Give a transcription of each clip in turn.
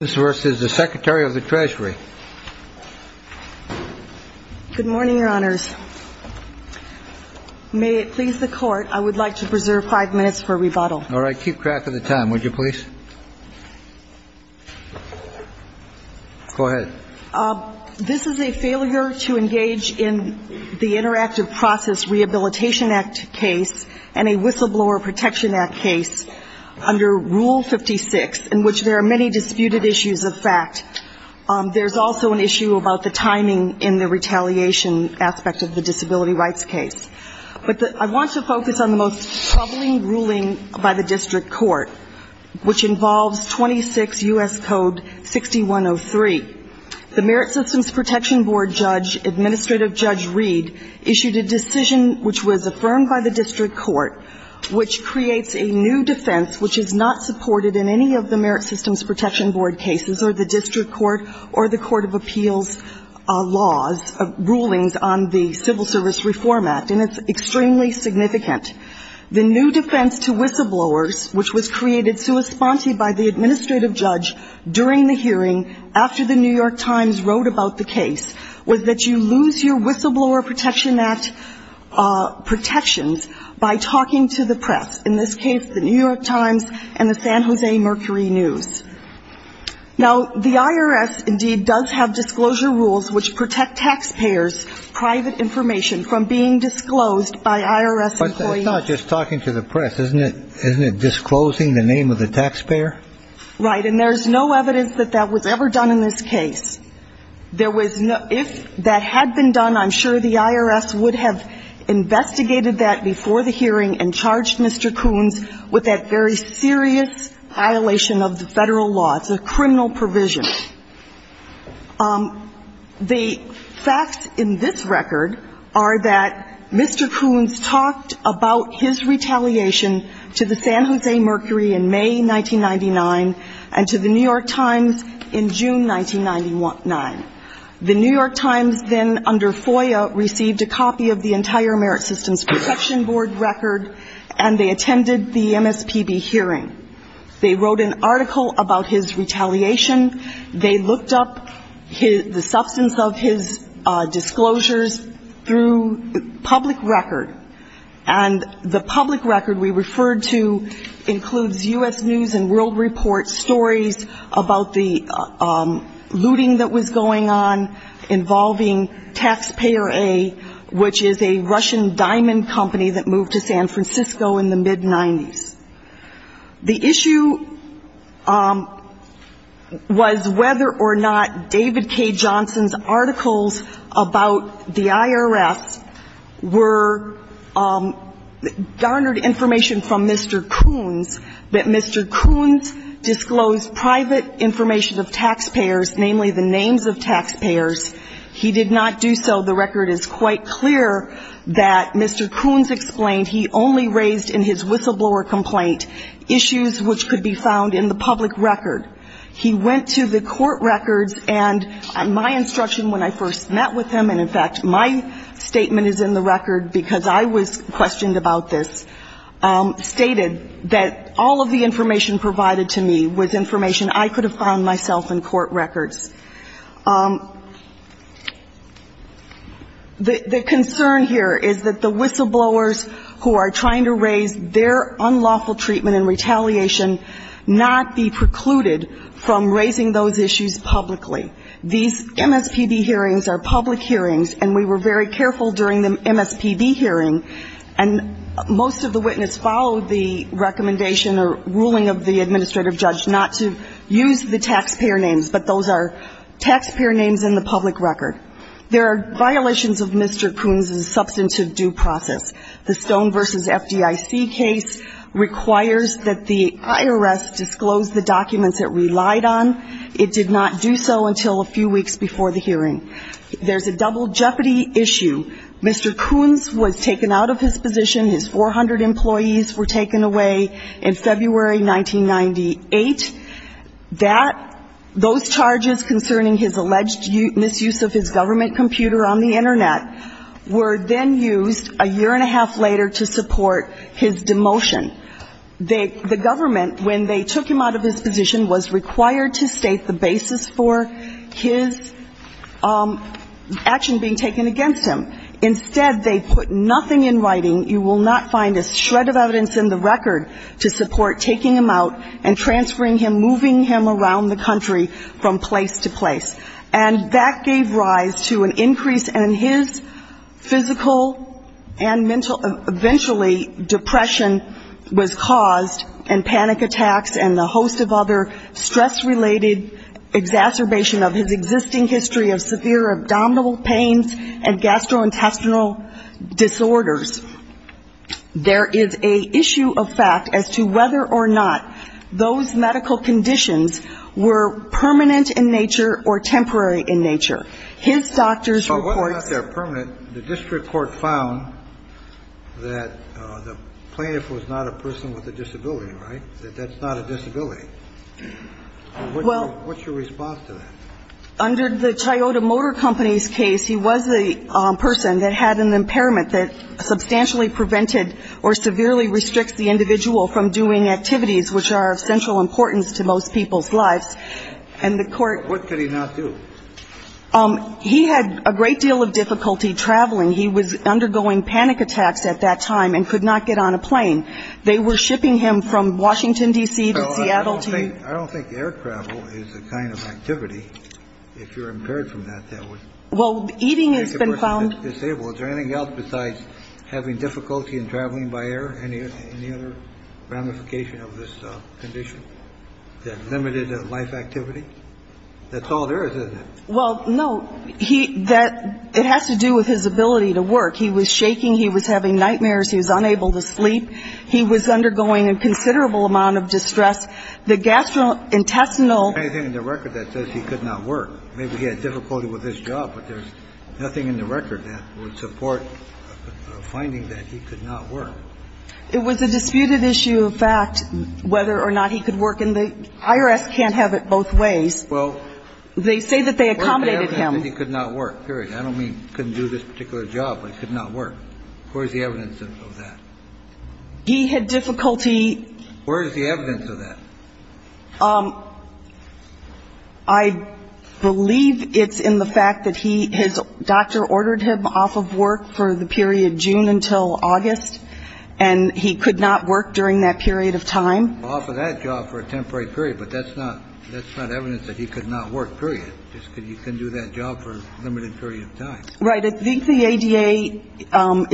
This is a failure to engage in the Interactive Process Rehabilitation Act case and a Whistleblower Protection Act case under Rule 56, in which there are many disputed issues of fact. There's also an issue about the timing in the retaliation aspect of the disability rights case. But I want to focus on the most troubling ruling by the district court, which involves 26 U.S. Code 6103. The Merit Systems Protection Board judge, Administrative Judge Reed, issued a decision which was affirmed by the district court, which creates a new defense, which is not supported in any of the Merit Systems Protection Board cases or the district court or the Court of Appeals laws, rulings on the Civil Service Reform Act, and it's extremely significant. The new defense to whistleblowers, which was created sui sponte by the Administrative Judge during the hearing after the New York Times wrote about the case, was that you lose your Whistleblower Protection Act protections by talking to the press, in this case the New York Times and the San Jose Mercury News. Now, the IRS, indeed, does have disclosure rules which protect taxpayers' private information from being disclosed by IRS employees. But it's not just talking to the press. Isn't it disclosing the name of the taxpayer? Right. And there's no evidence that that was ever done in this case. There was no – if that had been done, I'm sure the IRS would have investigated that before the hearing and charged Mr. Coons with that very serious violation of the Federal law. It's a criminal provision. The facts in this record are that Mr. Coons talked about his retaliation to the San Jose Mercury in May 1999 and to the New York Times in June 1999. The New York Times said that Coons then, under FOIA, received a copy of the entire Merit Systems Protection Board record and they attended the MSPB hearing. They wrote an article about his retaliation. They looked up the substance of his disclosures through public record. And the public record we referred to includes U.S. News and World Report stories about the looting that was going on involving Taxpayer A, which is a Russian diamond company that moved to San Francisco in the mid-'90s. The issue was whether or not David K. Johnson's articles about the IRS were garnered information from Mr. Coons, that Mr. Coons disclosed private information of taxpayers, namely the names of taxpayers. He did not do so. The record is quite clear that Mr. Coons explained he only raised in his whistleblower complaint issues which could be found in the public record. He went to the court records and, on my instruction when I first met with him and, in fact, my statement is in the record because I was questioned about this, stated that all of the information provided to me was information I could have found myself in court records. The concern here is that the whistleblowers who are trying to raise their unlawful treatment in retaliation not be precluded from raising those issues publicly. These MSPB hearings are public hearings, and we were very careful during the MSPB hearing, and most of the witness followed the recommendation or ruling of the administrative judge not to use the taxpayer names, but those are taxpayer names in the public record. There are violations of Mr. Coons' substantive due process. The Stone v. FDIC case requires that the IRS disclose the documents it relied on. It did not do so until a few weeks before the hearing. There's a double jeopardy issue. Mr. Coons was taken out of his position. His 400 employees were taken away in February 1998. That, those charges concerning his alleged misuse of his government computer on the Internet were then used a year and a half later to support his demotion. The government, when they took him out of his position, was required to state the basis for his action being taken against him. Instead, they put nothing in the record to support taking him out and transferring him, moving him around the country from place to place. And that gave rise to an increase in his physical and mental, eventually depression was caused, and panic attacks and a host of other stress-related exacerbation of his existing history of severe abdominal pains and gastrointestinal disorders. There is a issue of fact as to whether or not those medical conditions were permanent in nature or temporary in nature. His doctor's report said that the plaintiff was not a person with a disability, right? That that's not a disability. What's your response to that? Under the Toyota Motor Company's case, he was the person that had an impairment that substantially prevented or severely restricts the individual from doing activities which are of central importance to most people's lives. And the court What could he not do? He had a great deal of difficulty traveling. He was undergoing panic attacks at that time and could not get on a plane. They were shipping him from Washington, D.C. to Seattle to I don't think air travel is a kind of activity. If you're impaired from that, that would... Well, eating has been found... Is there anything else besides having difficulty in traveling by air? Any other ramification of this condition? That limited life activity? That's all there is, isn't it? Well, no. It has to do with his ability to work. He was shaking. He was having nightmares. He was unable to sleep. He was undergoing a considerable amount of distress. The gastrointestinal... Is there anything in the record that says he could not work? Maybe he had difficulty with his job, but there's nothing in the record that would support a finding that he could not work. It was a disputed issue of fact whether or not he could work. And the IRS can't have it both ways. Well... They say that they accommodated him. Where's the evidence that he could not work? Period. I don't mean he couldn't do this particular job, but he could not work. Where's the evidence of that? He had difficulty... Where is the evidence of that? I believe it's in the fact that he, his doctor ordered him off of work for the period June until August, and he could not work during that period of time. Off of that job for a temporary period, but that's not evidence that he could not work, period. He couldn't do that job for a limited period of time. Right. I think the ADA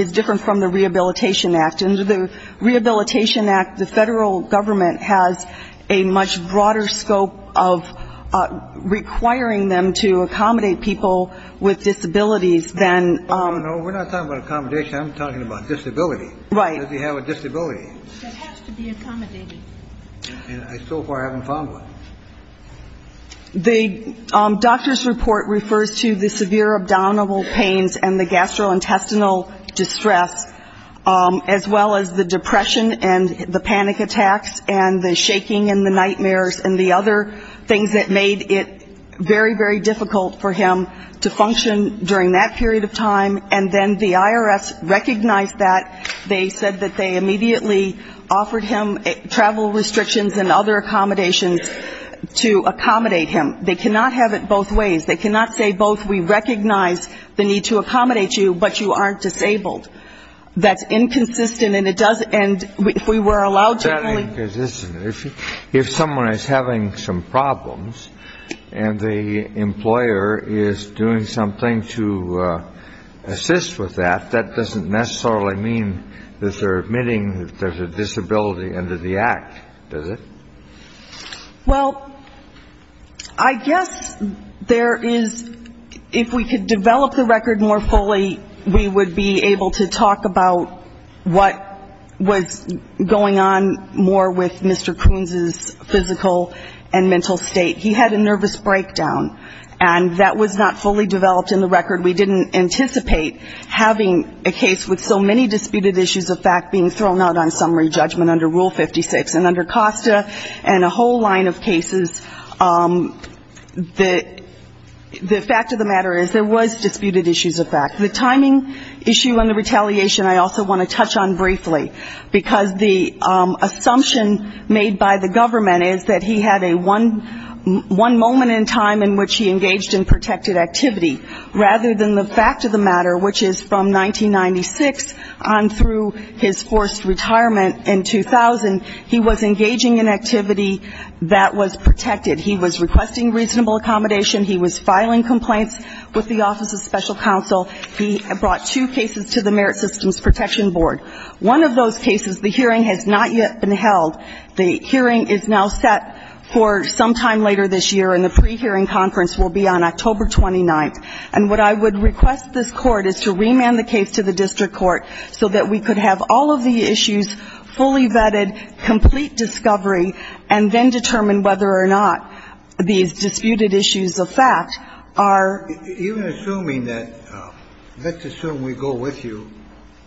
is different from the Rehabilitation Act. Under the Rehabilitation Act, the federal government has a much broader scope of requiring them to accommodate people with disabilities than... No, no, no. We're not talking about accommodation. I'm talking about disability. Right. Does he have a disability? That has to be accommodated. And I so far haven't found one. The doctor's report refers to the severe abdominal pains and the gastrointestinal distress as well as the depression and the panic attacks and the shaking and the nightmares and the other things that made it very, very difficult for him to function during that period of time. And then the IRS recognized that. They said that they immediately offered him travel restrictions and other accommodations to accommodate him. They cannot have it both ways. They cannot say both. We recognize the need to accommodate you, but you aren't disabled. That's inconsistent, and if we were allowed to... That's inconsistent. If someone is having some problems and the employer is doing something to assist with that, that doesn't necessarily mean that they're admitting that there's a disability under the Act, does it? Well, I guess there is, if we could develop the record more fully, we would be able to talk about what was going on more with Mr. Coons' physical and mental state. He had a nervous breakdown, and that was not fully developed in the record. We didn't anticipate having a case with so many disputed issues of fact being thrown out on summary judgment under Rule 56. And under COSTA and a whole line of cases, the fact of the matter is there was disputed issues of fact. The timing issue and the retaliation I also want to touch on briefly, because the assumption made by the government is that he had a one moment in time in which he engaged in protected activity. Rather than the fact of the matter, which is from 1996 on through his forced retirement in 2000, he was engaging in activity that was protected. He was requesting reasonable accommodation. He was filing complaints with the Office of Special Counsel. He brought two cases to the Merit Systems Protection Board. One of those cases, the hearing has not yet been held. The hearing is now set for sometime later this year, and the pre-hearing conference will be on October 29th. And what I would request this court is to remand the case to the district court so that we could have all of the issues fully vetted, complete discovery, and then determine whether or not these disputed issues of fact are. Even assuming that, let's assume we go with you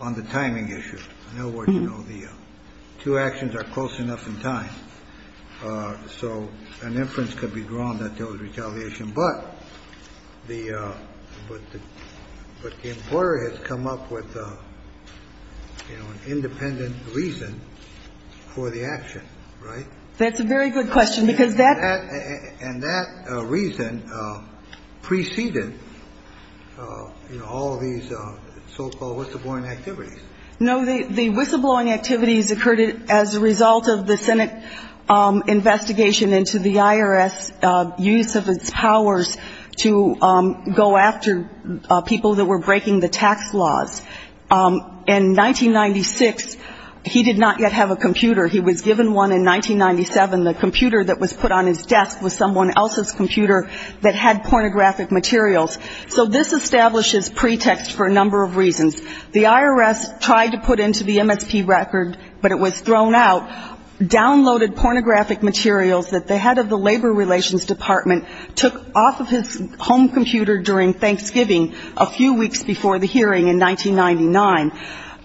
on the timing issue. In other words, you know, the two actions are close enough in time, so an inference could be drawn that there was retaliation. But the importer has come up with, you know, an independent reason for the action, right? That's a very good question, because that. And that reason preceded, you know, all of these so-called whistleblowing activities. No, the whistleblowing activities occurred as a result of the Senate investigation into the IRS use of its powers to go after people that were breaking the tax laws. In 1996, he did not yet have a computer. He was given one in 1997. The computer that was put on his desk was someone else's computer that had pornographic materials. So this establishes pretext for a number of reasons. The IRS tried to put into the MSP record, but it was thrown out, downloaded pornographic materials that the head of the Labor Relations Department took off of his home computer during Thanksgiving a few weeks before the hearing in 1999.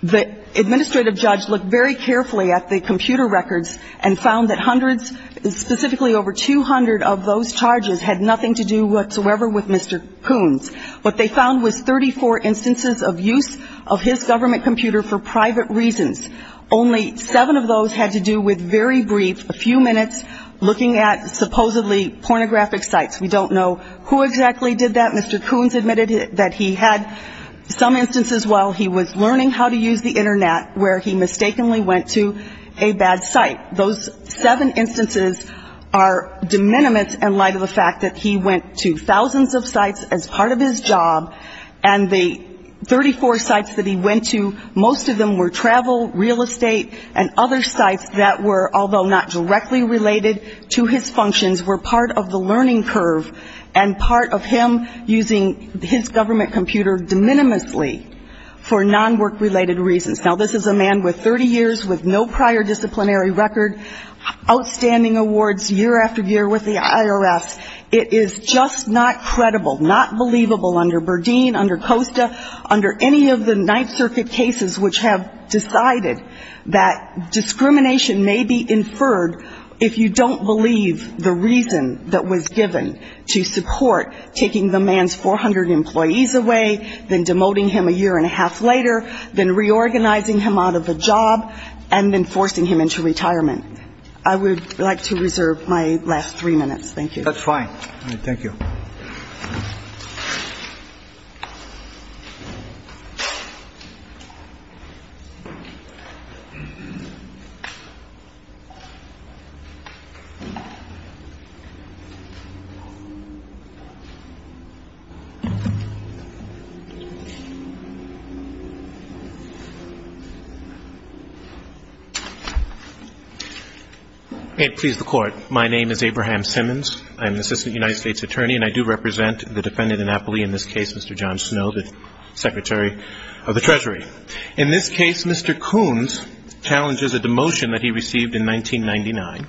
The administrative judge looked very carefully at the computer records and found that hundreds, specifically over 200 of those charges, had nothing to do whatsoever with Mr. Coons. What they found was 34 instances of use of his government computer for private reasons. Only seven of those had to do with very brief, a few minutes, looking at supposedly pornographic sites. We don't know who exactly did that. Mr. Coons admitted that he had some instances while he was learning how to use the Internet where he mistakenly went to a bad site. Those seven instances are de minimis in light of the fact that he went to thousands of sites as part of his job, and the 34 sites that he went to, most of them were travel, real estate, and other sites that were, although not directly related to his functions, were part of the learning curve and part of him using his government computer de minimisly for non-work-related reasons. Now, this is a man with 30 years with no prior disciplinary record, outstanding awards year after year with the IRS. It is just not credible, not believable under Berdeen, under COSTA, under any of the Ninth Circuit cases which have decided that discrimination may be inferred if you don't believe the reason that was given to support taking the man's 400 employees away, then demoting him a year and a half later, then reorganizing him out of the job, and then forcing him into retirement. I would like to reserve my last three minutes. Thank you. That's fine. Thank you. May it please the Court. My name is Abraham Simmons. I am an Assistant United States Attorney, and I do represent the defendant in Appley, in this case, Mr. John Snow, the Secretary of the Treasury. In this case, Mr. Coons challenges a demotion that he received in 1999.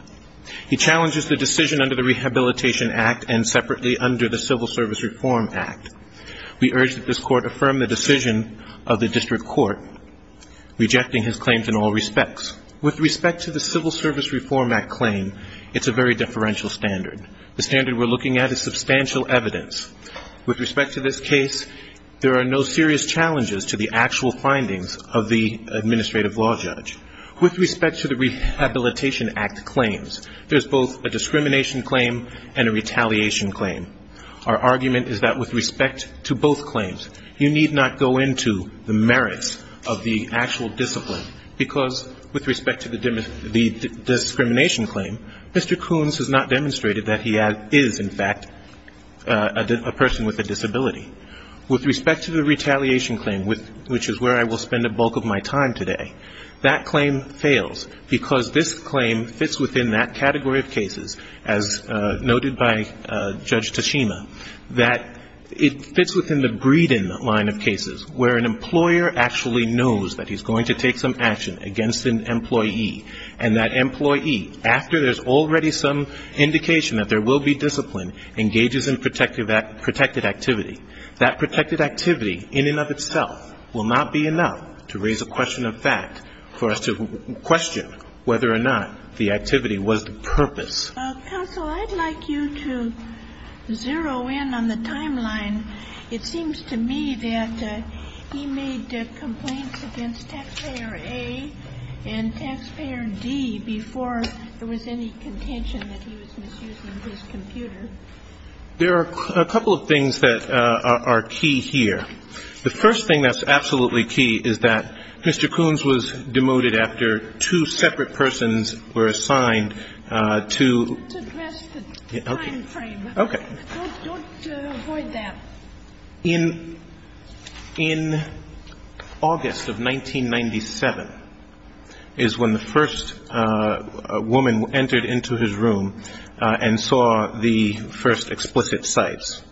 He challenges the decision under the Rehabilitation Act and separately under the Civil Service Reform Act. We urge that this Court affirm the decision of the District Court rejecting his claims in all respects. With respect to the Civil Service Reform Act claim, it's a very deferential standard. The standard we're looking at is substantial evidence. With respect to this case, there are no serious challenges to the actual findings of the administrative law judge. With respect to the Rehabilitation Act claims, there's both a discrimination claim and a retaliation claim. Our argument is that with respect to both claims, you need not go into the merits of the actual discipline because with respect to the discrimination claim, Mr. Coons has not demonstrated that he is, in fact, a person with a disability. With respect to the retaliation claim, which is where I will spend a bulk of my time today, that claim fails because this claim fits within that category of cases, as noted by Judge Tashima, where an employer actually knows that he's going to take some action against an employee and that employee, after there's already some indication that there will be discipline, engages in protected activity. That protected activity in and of itself will not be enough to raise a question of fact for us to question whether or not the activity was the purpose. Counsel, I'd like you to zero in on the timeline. It seems to me that he made complaints against Taxpayer A and Taxpayer D before there was any contention that he was misusing his computer. There are a couple of things that are key here. The first thing that's absolutely key is that Mr. Coons was demoted after two separate persons were assigned to the time frame. Okay. Don't avoid that. In August of 1997 is when the first woman entered into his room and saw the first explicit cites.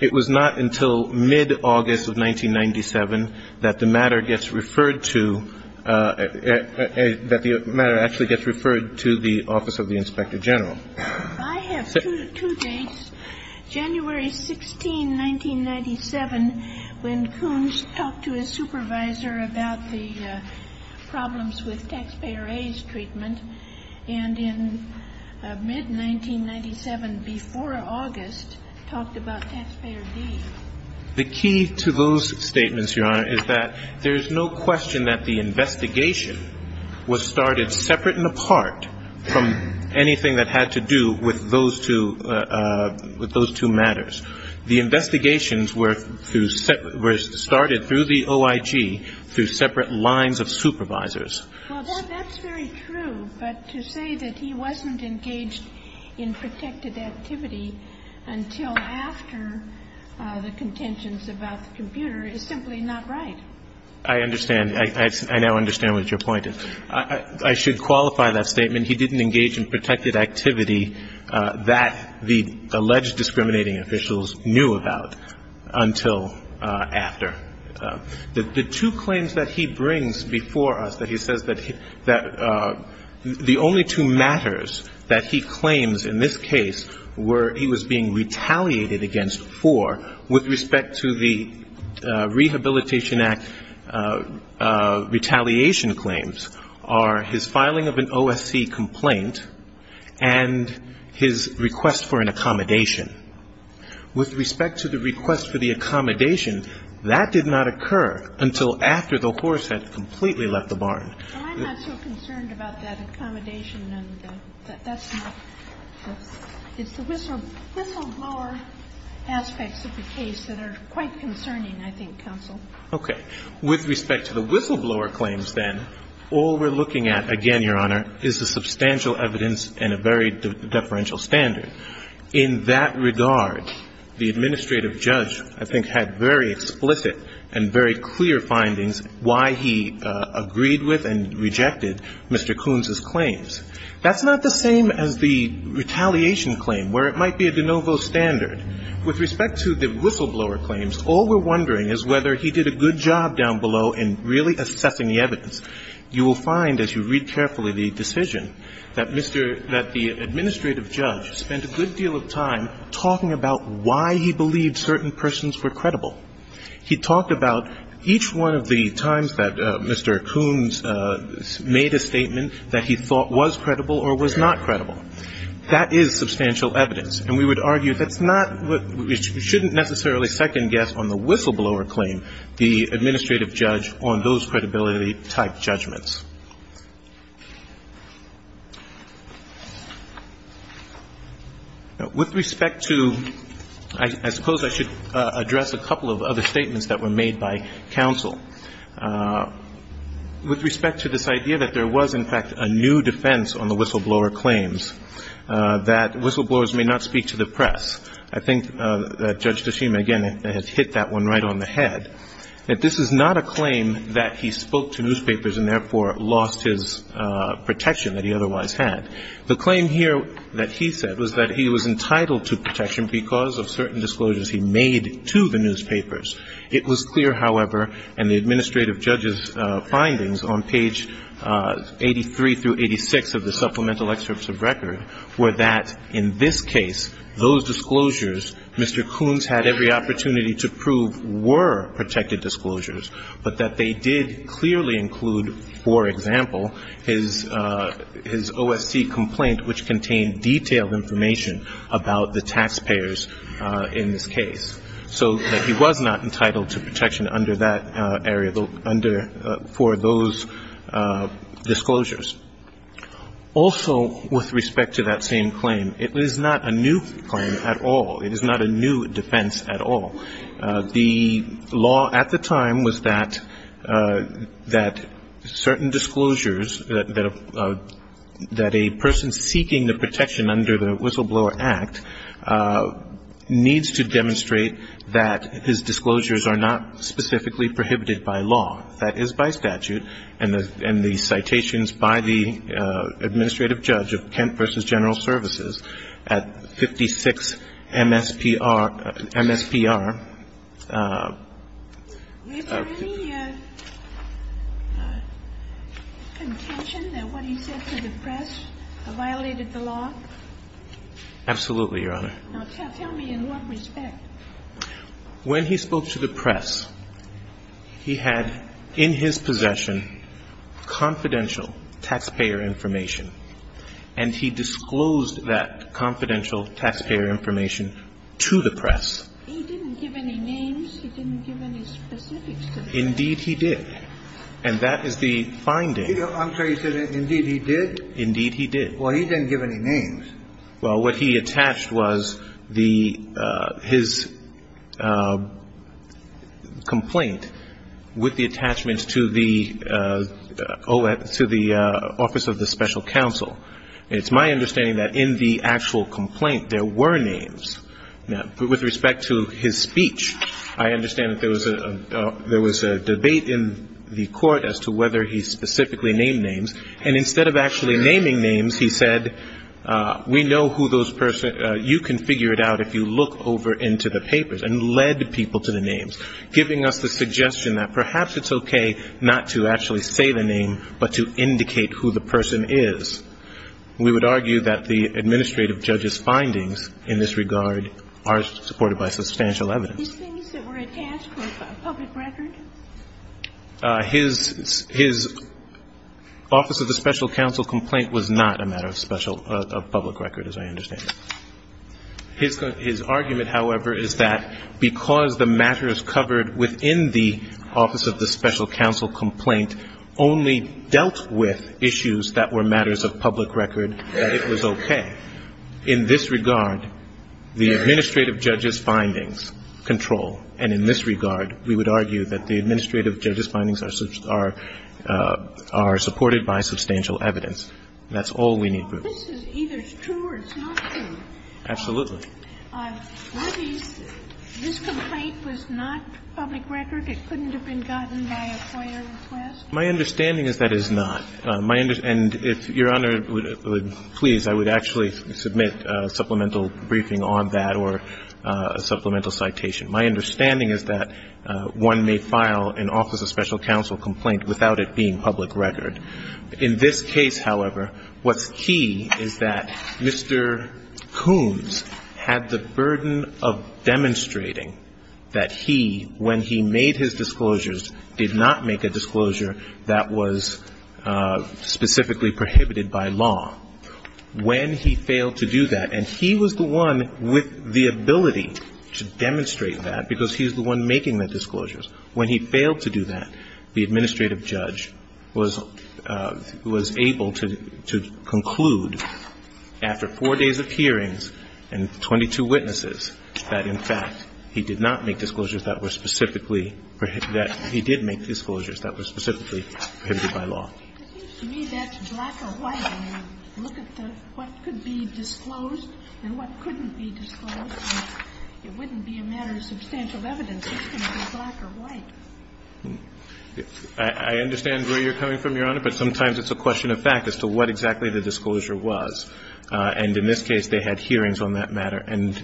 It was not until mid-August of 1997 that the matter gets referred to, that the matter actually gets referred to the Office of the Inspector General. I have two dates, January 16, 1997, when Coons talked to his supervisor about the problems with Taxpayer A's treatment, and in mid-1997, before August, talked about Taxpayer D. The key to those statements, Your Honor, is that there's no question that the investigation was started separate and apart from anything that had to do with those two matters. The investigations were started through the OIG through separate lines of supervisors. Well, that's very true, but to say that he wasn't engaged in protected activity until after the contentions about the computer is simply not right. I understand. I now understand what your point is. I should qualify that statement. He didn't engage in protected activity that the alleged discriminating officials knew about until after. The two claims that he brings before us, that he says that the only two matters that he claims in this case were he was being retaliated against for with respect to the Rehabilitation Act retaliation claims, are his filing of an OSC complaint and his request for an accommodation. With respect to the request for the accommodation, that did not occur until after the horse had completely left the barn. Well, I'm not so concerned about that accommodation. It's the whistleblower aspects of the case that are quite concerning, I think, counsel. Okay. With respect to the whistleblower claims, then, all we're looking at, again, Your Honor, is the substantial evidence and a very deferential standard. In that regard, the administrative judge, I think, had very explicit and very clear findings why he agreed with and rejected Mr. Koonz's claims. That's not the same as the retaliation claim where it might be a de novo standard. With respect to the whistleblower claims, all we're wondering is whether he did a good job down below in really assessing the evidence. You will find, as you read carefully the decision, that Mr. — that the administrative judge spent a good deal of time talking about why he believed certain persons were credible. He talked about each one of the times that Mr. Koonz made a statement that he thought was credible or was not credible. That is substantial evidence. And we would argue that's not — we shouldn't necessarily second-guess on the whistleblower claim the administrative judge on those credibility-type judgments. Now, with respect to — I suppose I should address a couple of other statements that were made by counsel. With respect to this idea that there was, in fact, a new defense on the whistleblower claims, that whistleblowers may not speak to the press, I think that Judge Tashima, again, has hit that one right on the head, that this is not a claim that he spoke to newspapers and therefore lost his protection that he otherwise had. The claim here that he said was that he was entitled to protection because of certain disclosures he made to the newspapers. It was clear, however, and the administrative judge's findings on page 83 through 86 of the supplemental excerpts of record were that in this case, those disclosures, Mr. Koonz had every opportunity to prove were protected disclosures, but that they did clearly include, for example, his OSC complaint, which contained detailed information about the taxpayers in this case. So that he was not entitled to protection under that area for those disclosures. Also, with respect to that same claim, it is not a new claim at all. It is not a new defense at all. The law at the time was that certain disclosures that a person seeking the protection under the Whistleblower Act needs to demonstrate that his disclosures are not specifically prohibited by law. That is by statute, and the citations by the administrative judge of Kent v. General Services at 56 MSPR. Is there any contention that what he said to the press violated the law? Absolutely, Your Honor. Now, tell me in what respect? When he spoke to the press, he had in his possession confidential taxpayer information, and he disclosed that confidential taxpayer information to the press. He didn't give any names. He didn't give any specifics to the press. Indeed, he did. And that is the finding. I'm sorry. You said, indeed, he did? Indeed, he did. Well, he didn't give any names. Well, what he attached was the his complaint with the attachments to the office of the special counsel. It's my understanding that in the actual complaint, there were names. With respect to his speech, I understand that there was a debate in the court as to whether he specifically named names, and instead of actually naming names, he said, we know who those persons are. You can figure it out if you look over into the papers, and led people to the names, giving us the suggestion that perhaps it's okay not to actually say the name, but to indicate who the person is. We would argue that the administrative judge's findings in this regard are supported by substantial evidence. These things that were attached to a public record? His office of the special counsel complaint was not a matter of special public record, as I understand it. His argument, however, is that because the matter is covered within the office of the special counsel, and there were issues that were matters of public record, that it was okay. In this regard, the administrative judge's findings control, and in this regard, we would argue that the administrative judge's findings are supported by substantial evidence. That's all we need. This is either true or it's not true. Absolutely. Sotomayor, this complaint was not public record? It couldn't have been gotten by a FOIA request? My understanding is that it's not. And if Your Honor would please, I would actually submit a supplemental briefing on that or a supplemental citation. My understanding is that one may file an office of special counsel complaint without it being public record. In this case, however, what's key is that Mr. Coons had the burden of demonstrating that he, when he made his disclosures, did not make a disclosure that was specifically prohibited by law. When he failed to do that, and he was the one with the ability to demonstrate that, because he's the one making the disclosures. When he failed to do that, the administrative judge was able to conclude after four days of hearings and 22 witnesses that, in fact, he did not make disclosures that were specifically, that he did make disclosures that were specifically prohibited by law. It seems to me that black or white, when you look at what could be disclosed and what couldn't be disclosed, it wouldn't be a matter of substantial evidence that it was black or white. I understand where you're coming from, Your Honor, but sometimes it's a question of fact as to what exactly the disclosure was. And in this case, they had hearings on that matter, and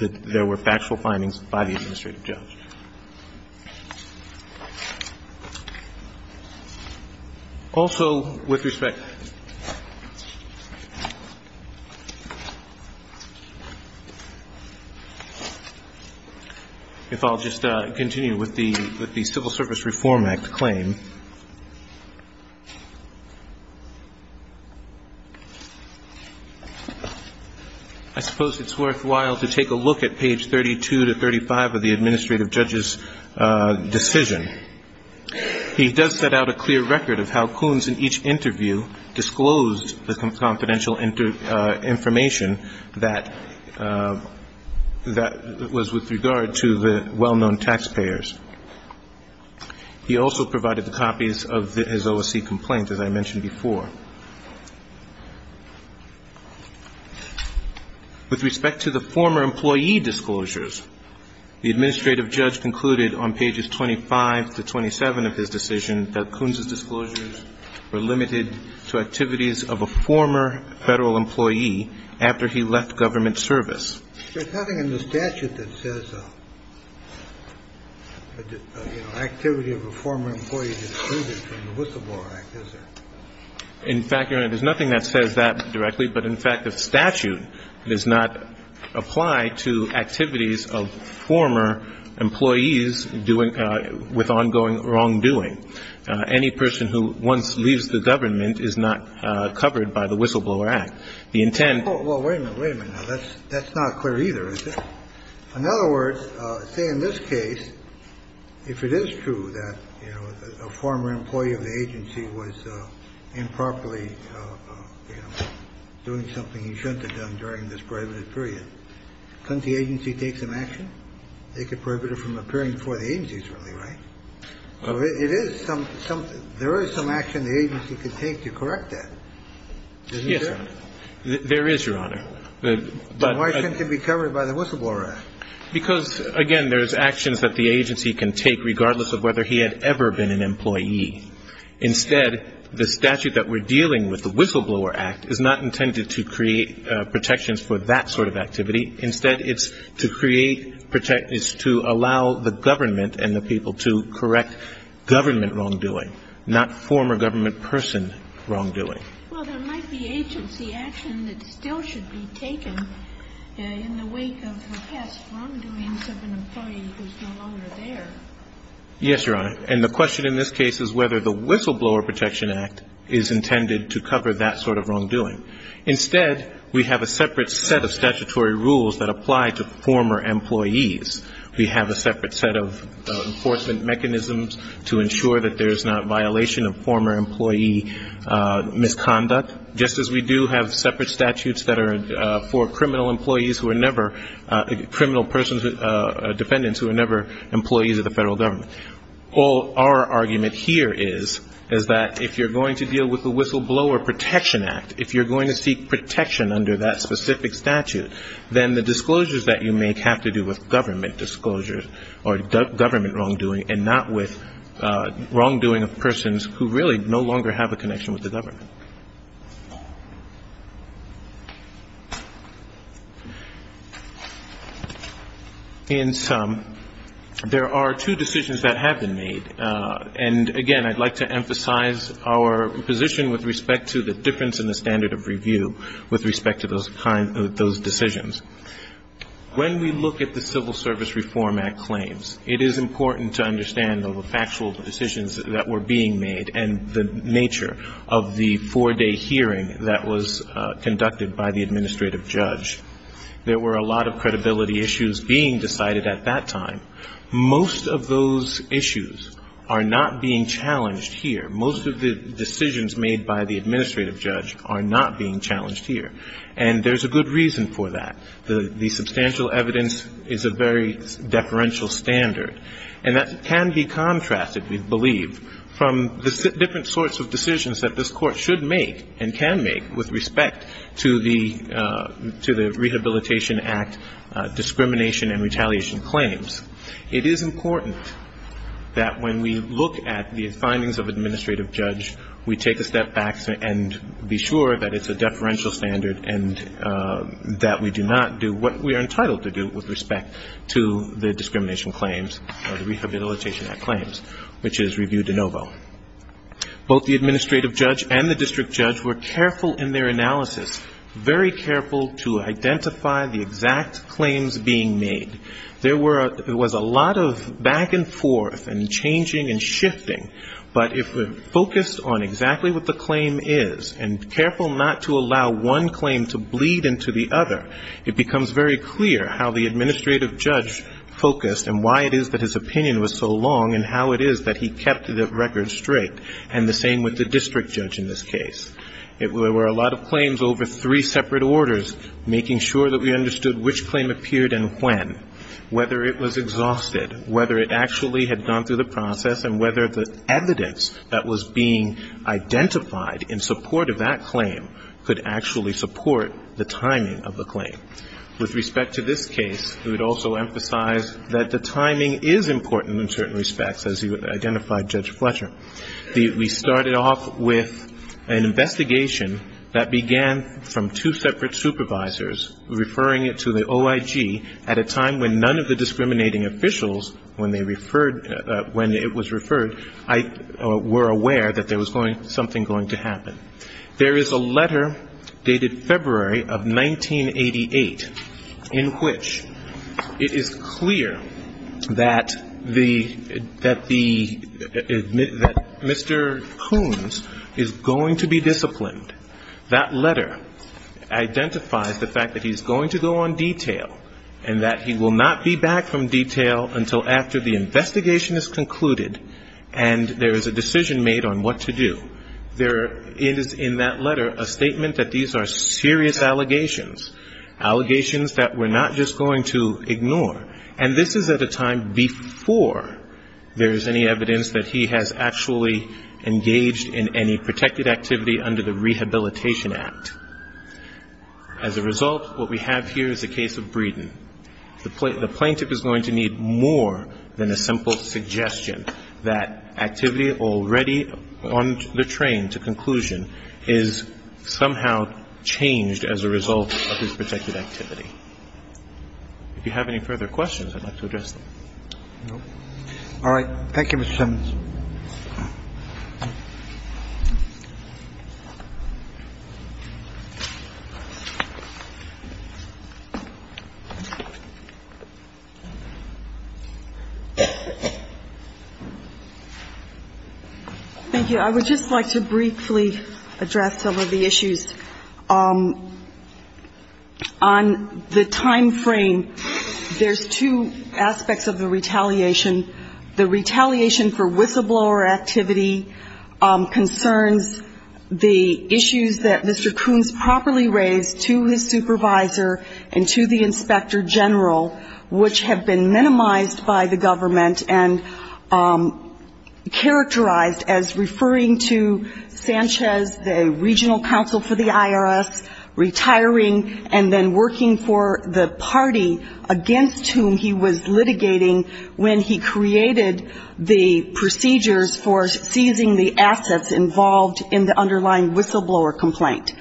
there were factual findings by the administrative judge. Also, with respect, if I'll just continue with the Civil Service Reform Act claim, I suppose it's worthwhile to take a look at page 32 to 35 of the administrative judge's decision. He does set out a clear record of how Coons, in each interview, disclosed the confidential information that was with regard to the well-known taxpayers. He also provided the copies of his OSC complaint, as I mentioned before. With respect to the former employee disclosures, the administrative judge concluded on pages 25 to 27 of his decision that Coons' disclosures were limited to activities of a former Federal employee after he left government service. There's nothing in the statute that says, you know, activity of a former employee is excluded from the Whistleblower Act, is there? In fact, Your Honor, there's nothing that says that directly, but in fact, the statute does not apply to activities of former employees doing – with ongoing wrongdoing. Any person who once leaves the government is not covered by the Whistleblower Act. The intent – Well, wait a minute. Wait a minute. Now, that's not clear either, is it? In other words, say in this case, if it is true that, you know, a former employee of the agency was improperly, you know, doing something he shouldn't have done during this prohibited period, couldn't the agency take some action? They could prohibit it from appearing before the agencies, really, right? So it is some – there is some action the agency could take to correct that. Isn't there? Yes, Your Honor. There is, Your Honor. But why shouldn't he be covered by the Whistleblower Act? Because, again, there's actions that the agency can take regardless of whether he had ever been an employee. Instead, the statute that we're dealing with, the Whistleblower Act, is not intended to create protections for that sort of activity. Instead, it's to create – it's to allow the government and the people to correct government wrongdoing, not former government person wrongdoing. Well, there might be agency action that still should be taken in the wake of the past wrongdoings of an employee who is no longer there. Yes, Your Honor. And the question in this case is whether the Whistleblower Protection Act is intended to cover that sort of wrongdoing. Instead, we have a separate set of statutory rules that apply to former employees. We have a separate set of enforcement mechanisms to ensure that there is not violation of former employee misconduct. Just as we do have separate statutes that are for criminal employees who are never – criminal persons or defendants who are never employees of the federal government. Our argument here is that if you're going to deal with the Whistleblower Protection Act, if you're going to seek protection under that specific statute, then the disclosures that you make have to do with government disclosures or government wrongdoing and not with wrongdoing of persons who really no longer have a connection with the government. In sum, there are two decisions that have been made. And, again, I'd like to emphasize our position with respect to the difference in the standard of review with respect to those decisions. When we look at the Civil Service Reform Act claims, it is important to understand the factual decisions that were being made and the nature of the four-day hearing that was conducted by the administrative judge. There were a lot of credibility issues being decided at that time. Most of those issues are not being challenged here. Most of the decisions made by the administrative judge are not being challenged here. And there's a good reason for that. The substantial evidence is a very deferential standard. And that can be contrasted, we believe, from the different sorts of decisions that this Court should make and can make with respect to the Rehabilitation Act discrimination and retaliation claims. It is important that when we look at the findings of an administrative judge, we take a step back and be sure that it's a deferential standard and that we do not do what we are entitled to do with respect to the discrimination claims or the Rehabilitation Act claims, which is review de novo. Both the administrative judge and the district judge were careful in their analysis, very careful to identify the exact claims being made. There was a lot of back and forth and changing and shifting. But if we're focused on exactly what the claim is and careful not to allow one claim to bleed into the other, it becomes very clear how the administrative judge focused and why it is that his opinion was so long and how it is that he kept the record straight. And the same with the district judge in this case. There were a lot of claims over three separate orders, making sure that we understood which claim appeared and when, whether it was exhausted, whether it actually had gone through the process and whether the evidence that was being identified in support of that claim could actually support the timing of the claim. With respect to this case, we would also emphasize that the timing is important in certain respects, as you identified, Judge Fletcher. We started off with an investigation that began from two separate supervisors referring it to the OIG at a time when none of the discriminating officials, when they referred, when it was referred, were aware that there was something going to happen. There is a letter dated February of 1988 in which it is clear that the Mr. Coons is going to be disciplined. That letter identifies the fact that he's going to go on detail and that he will not be back from detail until after the investigation is concluded and there is a decision made on what to do. There is in that letter a statement that these are serious allegations, and this is at a time before there is any evidence that he has actually engaged in any protected activity under the Rehabilitation Act. As a result, what we have here is a case of Breeden. The plaintiff is going to need more than a simple suggestion that activity already on the train to conclusion is somehow changed as a result of his protected activity. If you have any further questions, I'd like to address them. All right. Thank you, Mr. Simmons. Thank you. I would just like to briefly address some of the issues. On the timeframe, there's two aspects of the retaliation. The retaliation for whistleblower activity concerns the issues that Mr. Coons properly raised to his supervisor and to the inspector general, which have been minimized by the government and characterized as referring to Sanchez, the regional counsel for the IRS, retiring, and then working for the party against whom he was litigating when he created the procedures for seizing the assets involved in the underlying whistleblower complaint.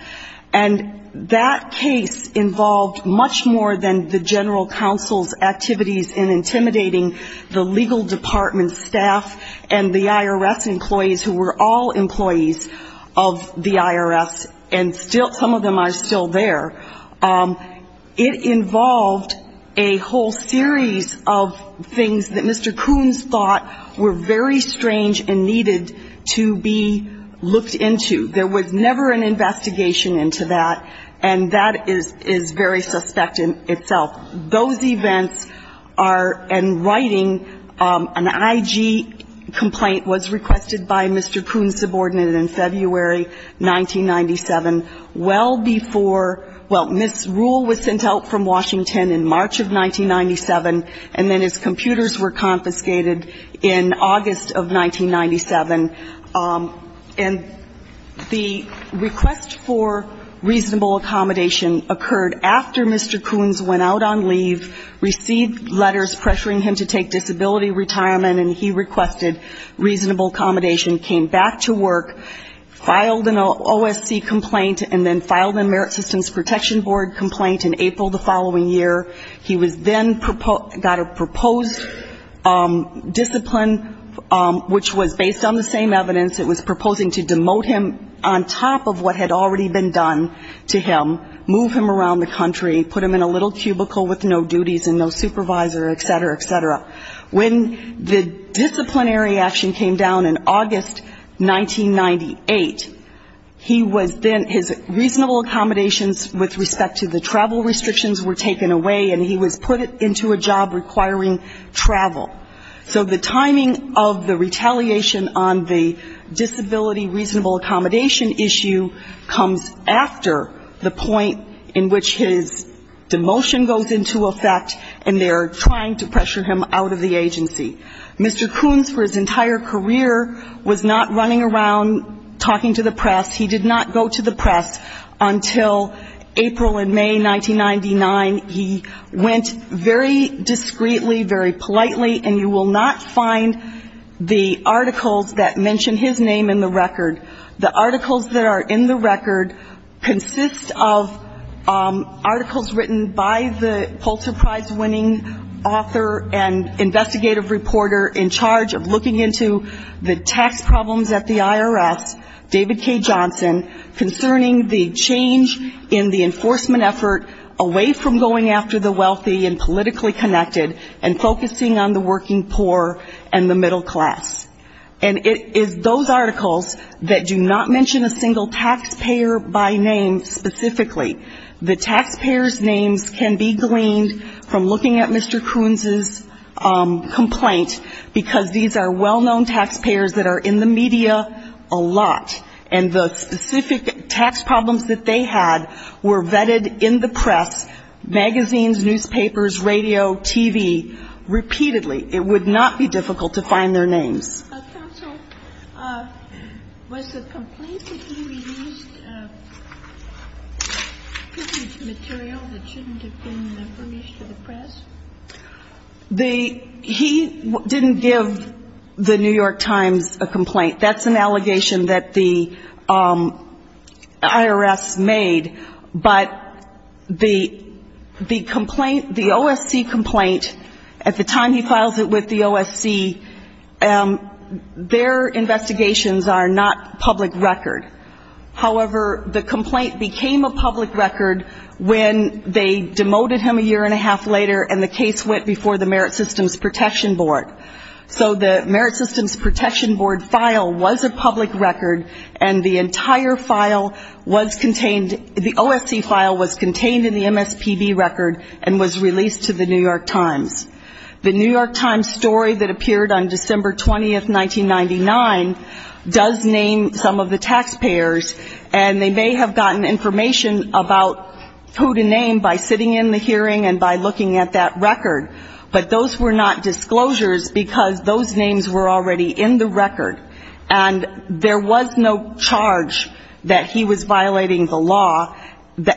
And that case involved much more than the general counsel's activities in intimidating the legal process and the legal department staff and the IRS employees who were all employees of the IRS, and some of them are still there. It involved a whole series of things that Mr. Coons thought were very strange and needed to be looked into. There was never an investigation into that, and that is very suspect in itself. Those events are, in writing, an IG complaint was requested by Mr. Coons' subordinate in February 1997, well before, well, Ms. Rule was sent out from Washington in March of 1997, and then his computers were confiscated in August of 1997. And the request for reasonable accommodation occurred after Mr. Coons went out on his own leave, received letters pressuring him to take disability retirement, and he requested reasonable accommodation, came back to work, filed an OSC complaint, and then filed a Merit Systems Protection Board complaint in April the following year. He was then got a proposed discipline, which was based on the same evidence. It was proposing to demote him on top of what had already been done to him, move him around the country, put him in a little cubicle with no duties and no supervisor, et cetera, et cetera. When the disciplinary action came down in August 1998, he was then, his reasonable accommodations with respect to the travel restrictions were taken away, and he was put into a job requiring travel. So the timing of the retaliation on the disability reasonable accommodation issue comes after the point in which his demotion goes into effect, and they are trying to pressure him out of the agency. Mr. Coons, for his entire career, was not running around talking to the press. He did not go to the press until April and May 1999. He went very discreetly, very politely, and you will not find the articles that mention his name in the record. The articles that are in the record consist of articles written by Mr. Coons himself. They are written by the Pulitzer Prize-winning author and investigative reporter in charge of looking into the tax problems at the IRS, David K. Johnson, concerning the change in the enforcement effort away from going after the wealthy and politically connected and focusing on the working poor and the middle class. And it is those articles that do not mention a single taxpayer by name specifically. The taxpayers' names can be gleaned from looking at Mr. Coons' complaint, because these are well-known taxpayers that are in the media a lot, and the specific tax problems that they had were vetted in the press, magazines, newspapers, radio, TV, repeatedly. It would not be difficult to find their names. MS. COONS. Counsel, was the complaint that he released picture material that shouldn't have been published to the press? MS. COONS. He didn't give the New York Times a complaint. That's an allegation that the IRS made, but the complaint, the OSC complaint, at the time he files it with the OSC, their investigations are not public record. However, the complaint became a public record when they demoted him a year and a half later, and the case went before the Merit Systems Protection Board. So the Merit Systems Protection Board file was a public record, and the entire file was contained, the OSC file was contained in the MSPB record and was released to the New York Times. The New York Times story that appeared on December 20, 1999, does name some of the taxpayers, and they may have gotten information about who to name by sitting in the hearing and by looking at that record, but those were not disclosures because those names were already in the record, and there was no charge that he was violating the law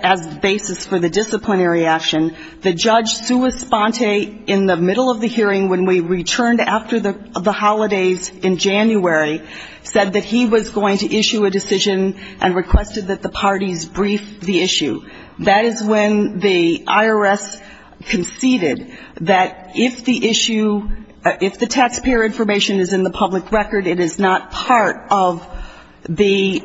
as the basis for the disciplinary action. The judge, Sue Esponte, in the middle of the hearing when we returned after the holidays in January, said that he was going to issue a decision and requested that the parties brief the issue. That is when the IRS conceded that if the issue, if the taxpayer information is in the public record, it is not part of the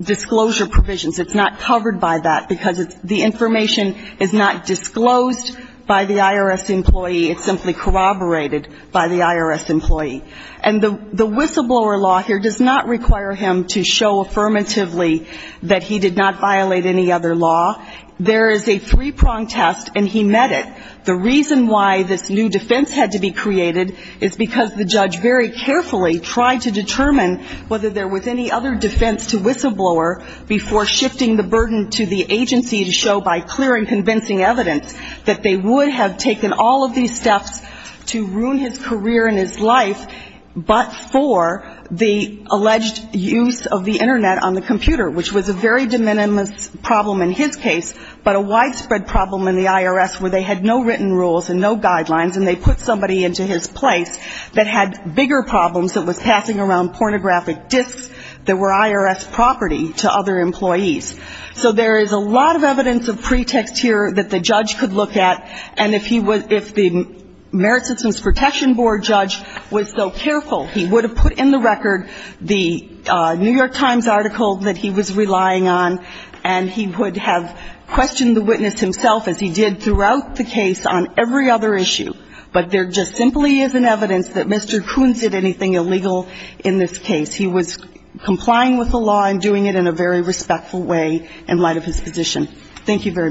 disclosure provisions. It's not covered by that, because the information is not disclosed. By the IRS employee, it's simply corroborated by the IRS employee. And the whistleblower law here does not require him to show affirmatively that he did not violate any other law. There is a three-prong test, and he met it. The reason why this new defense had to be created is because the judge very carefully tried to determine whether there was any other defense to whistleblower before shifting the burden to the agency to show by clear and convincing evidence that they would have taken all of these steps to ruin his career and his life, but for the alleged use of the Internet on the computer, which was a very de minimis problem in his case, but a widespread problem in the IRS where they had no written rules and no guidelines, and they put somebody into his place that had bigger problems that was passing around pornographic disks that were IRS property to other employees. So there is a lot of evidence of pretext here that the judge could look at. And if he was the Merit Systems Protection Board judge was so careful, he would have put in the record the New York Times article that he was relying on, and he would have questioned the witness himself, as he did throughout the case, on every other issue. But there just simply isn't evidence that Mr. Kuhn did anything illegal in this case. He was complying with the law and doing it in a very respectful way in light of his position. Thank you very much.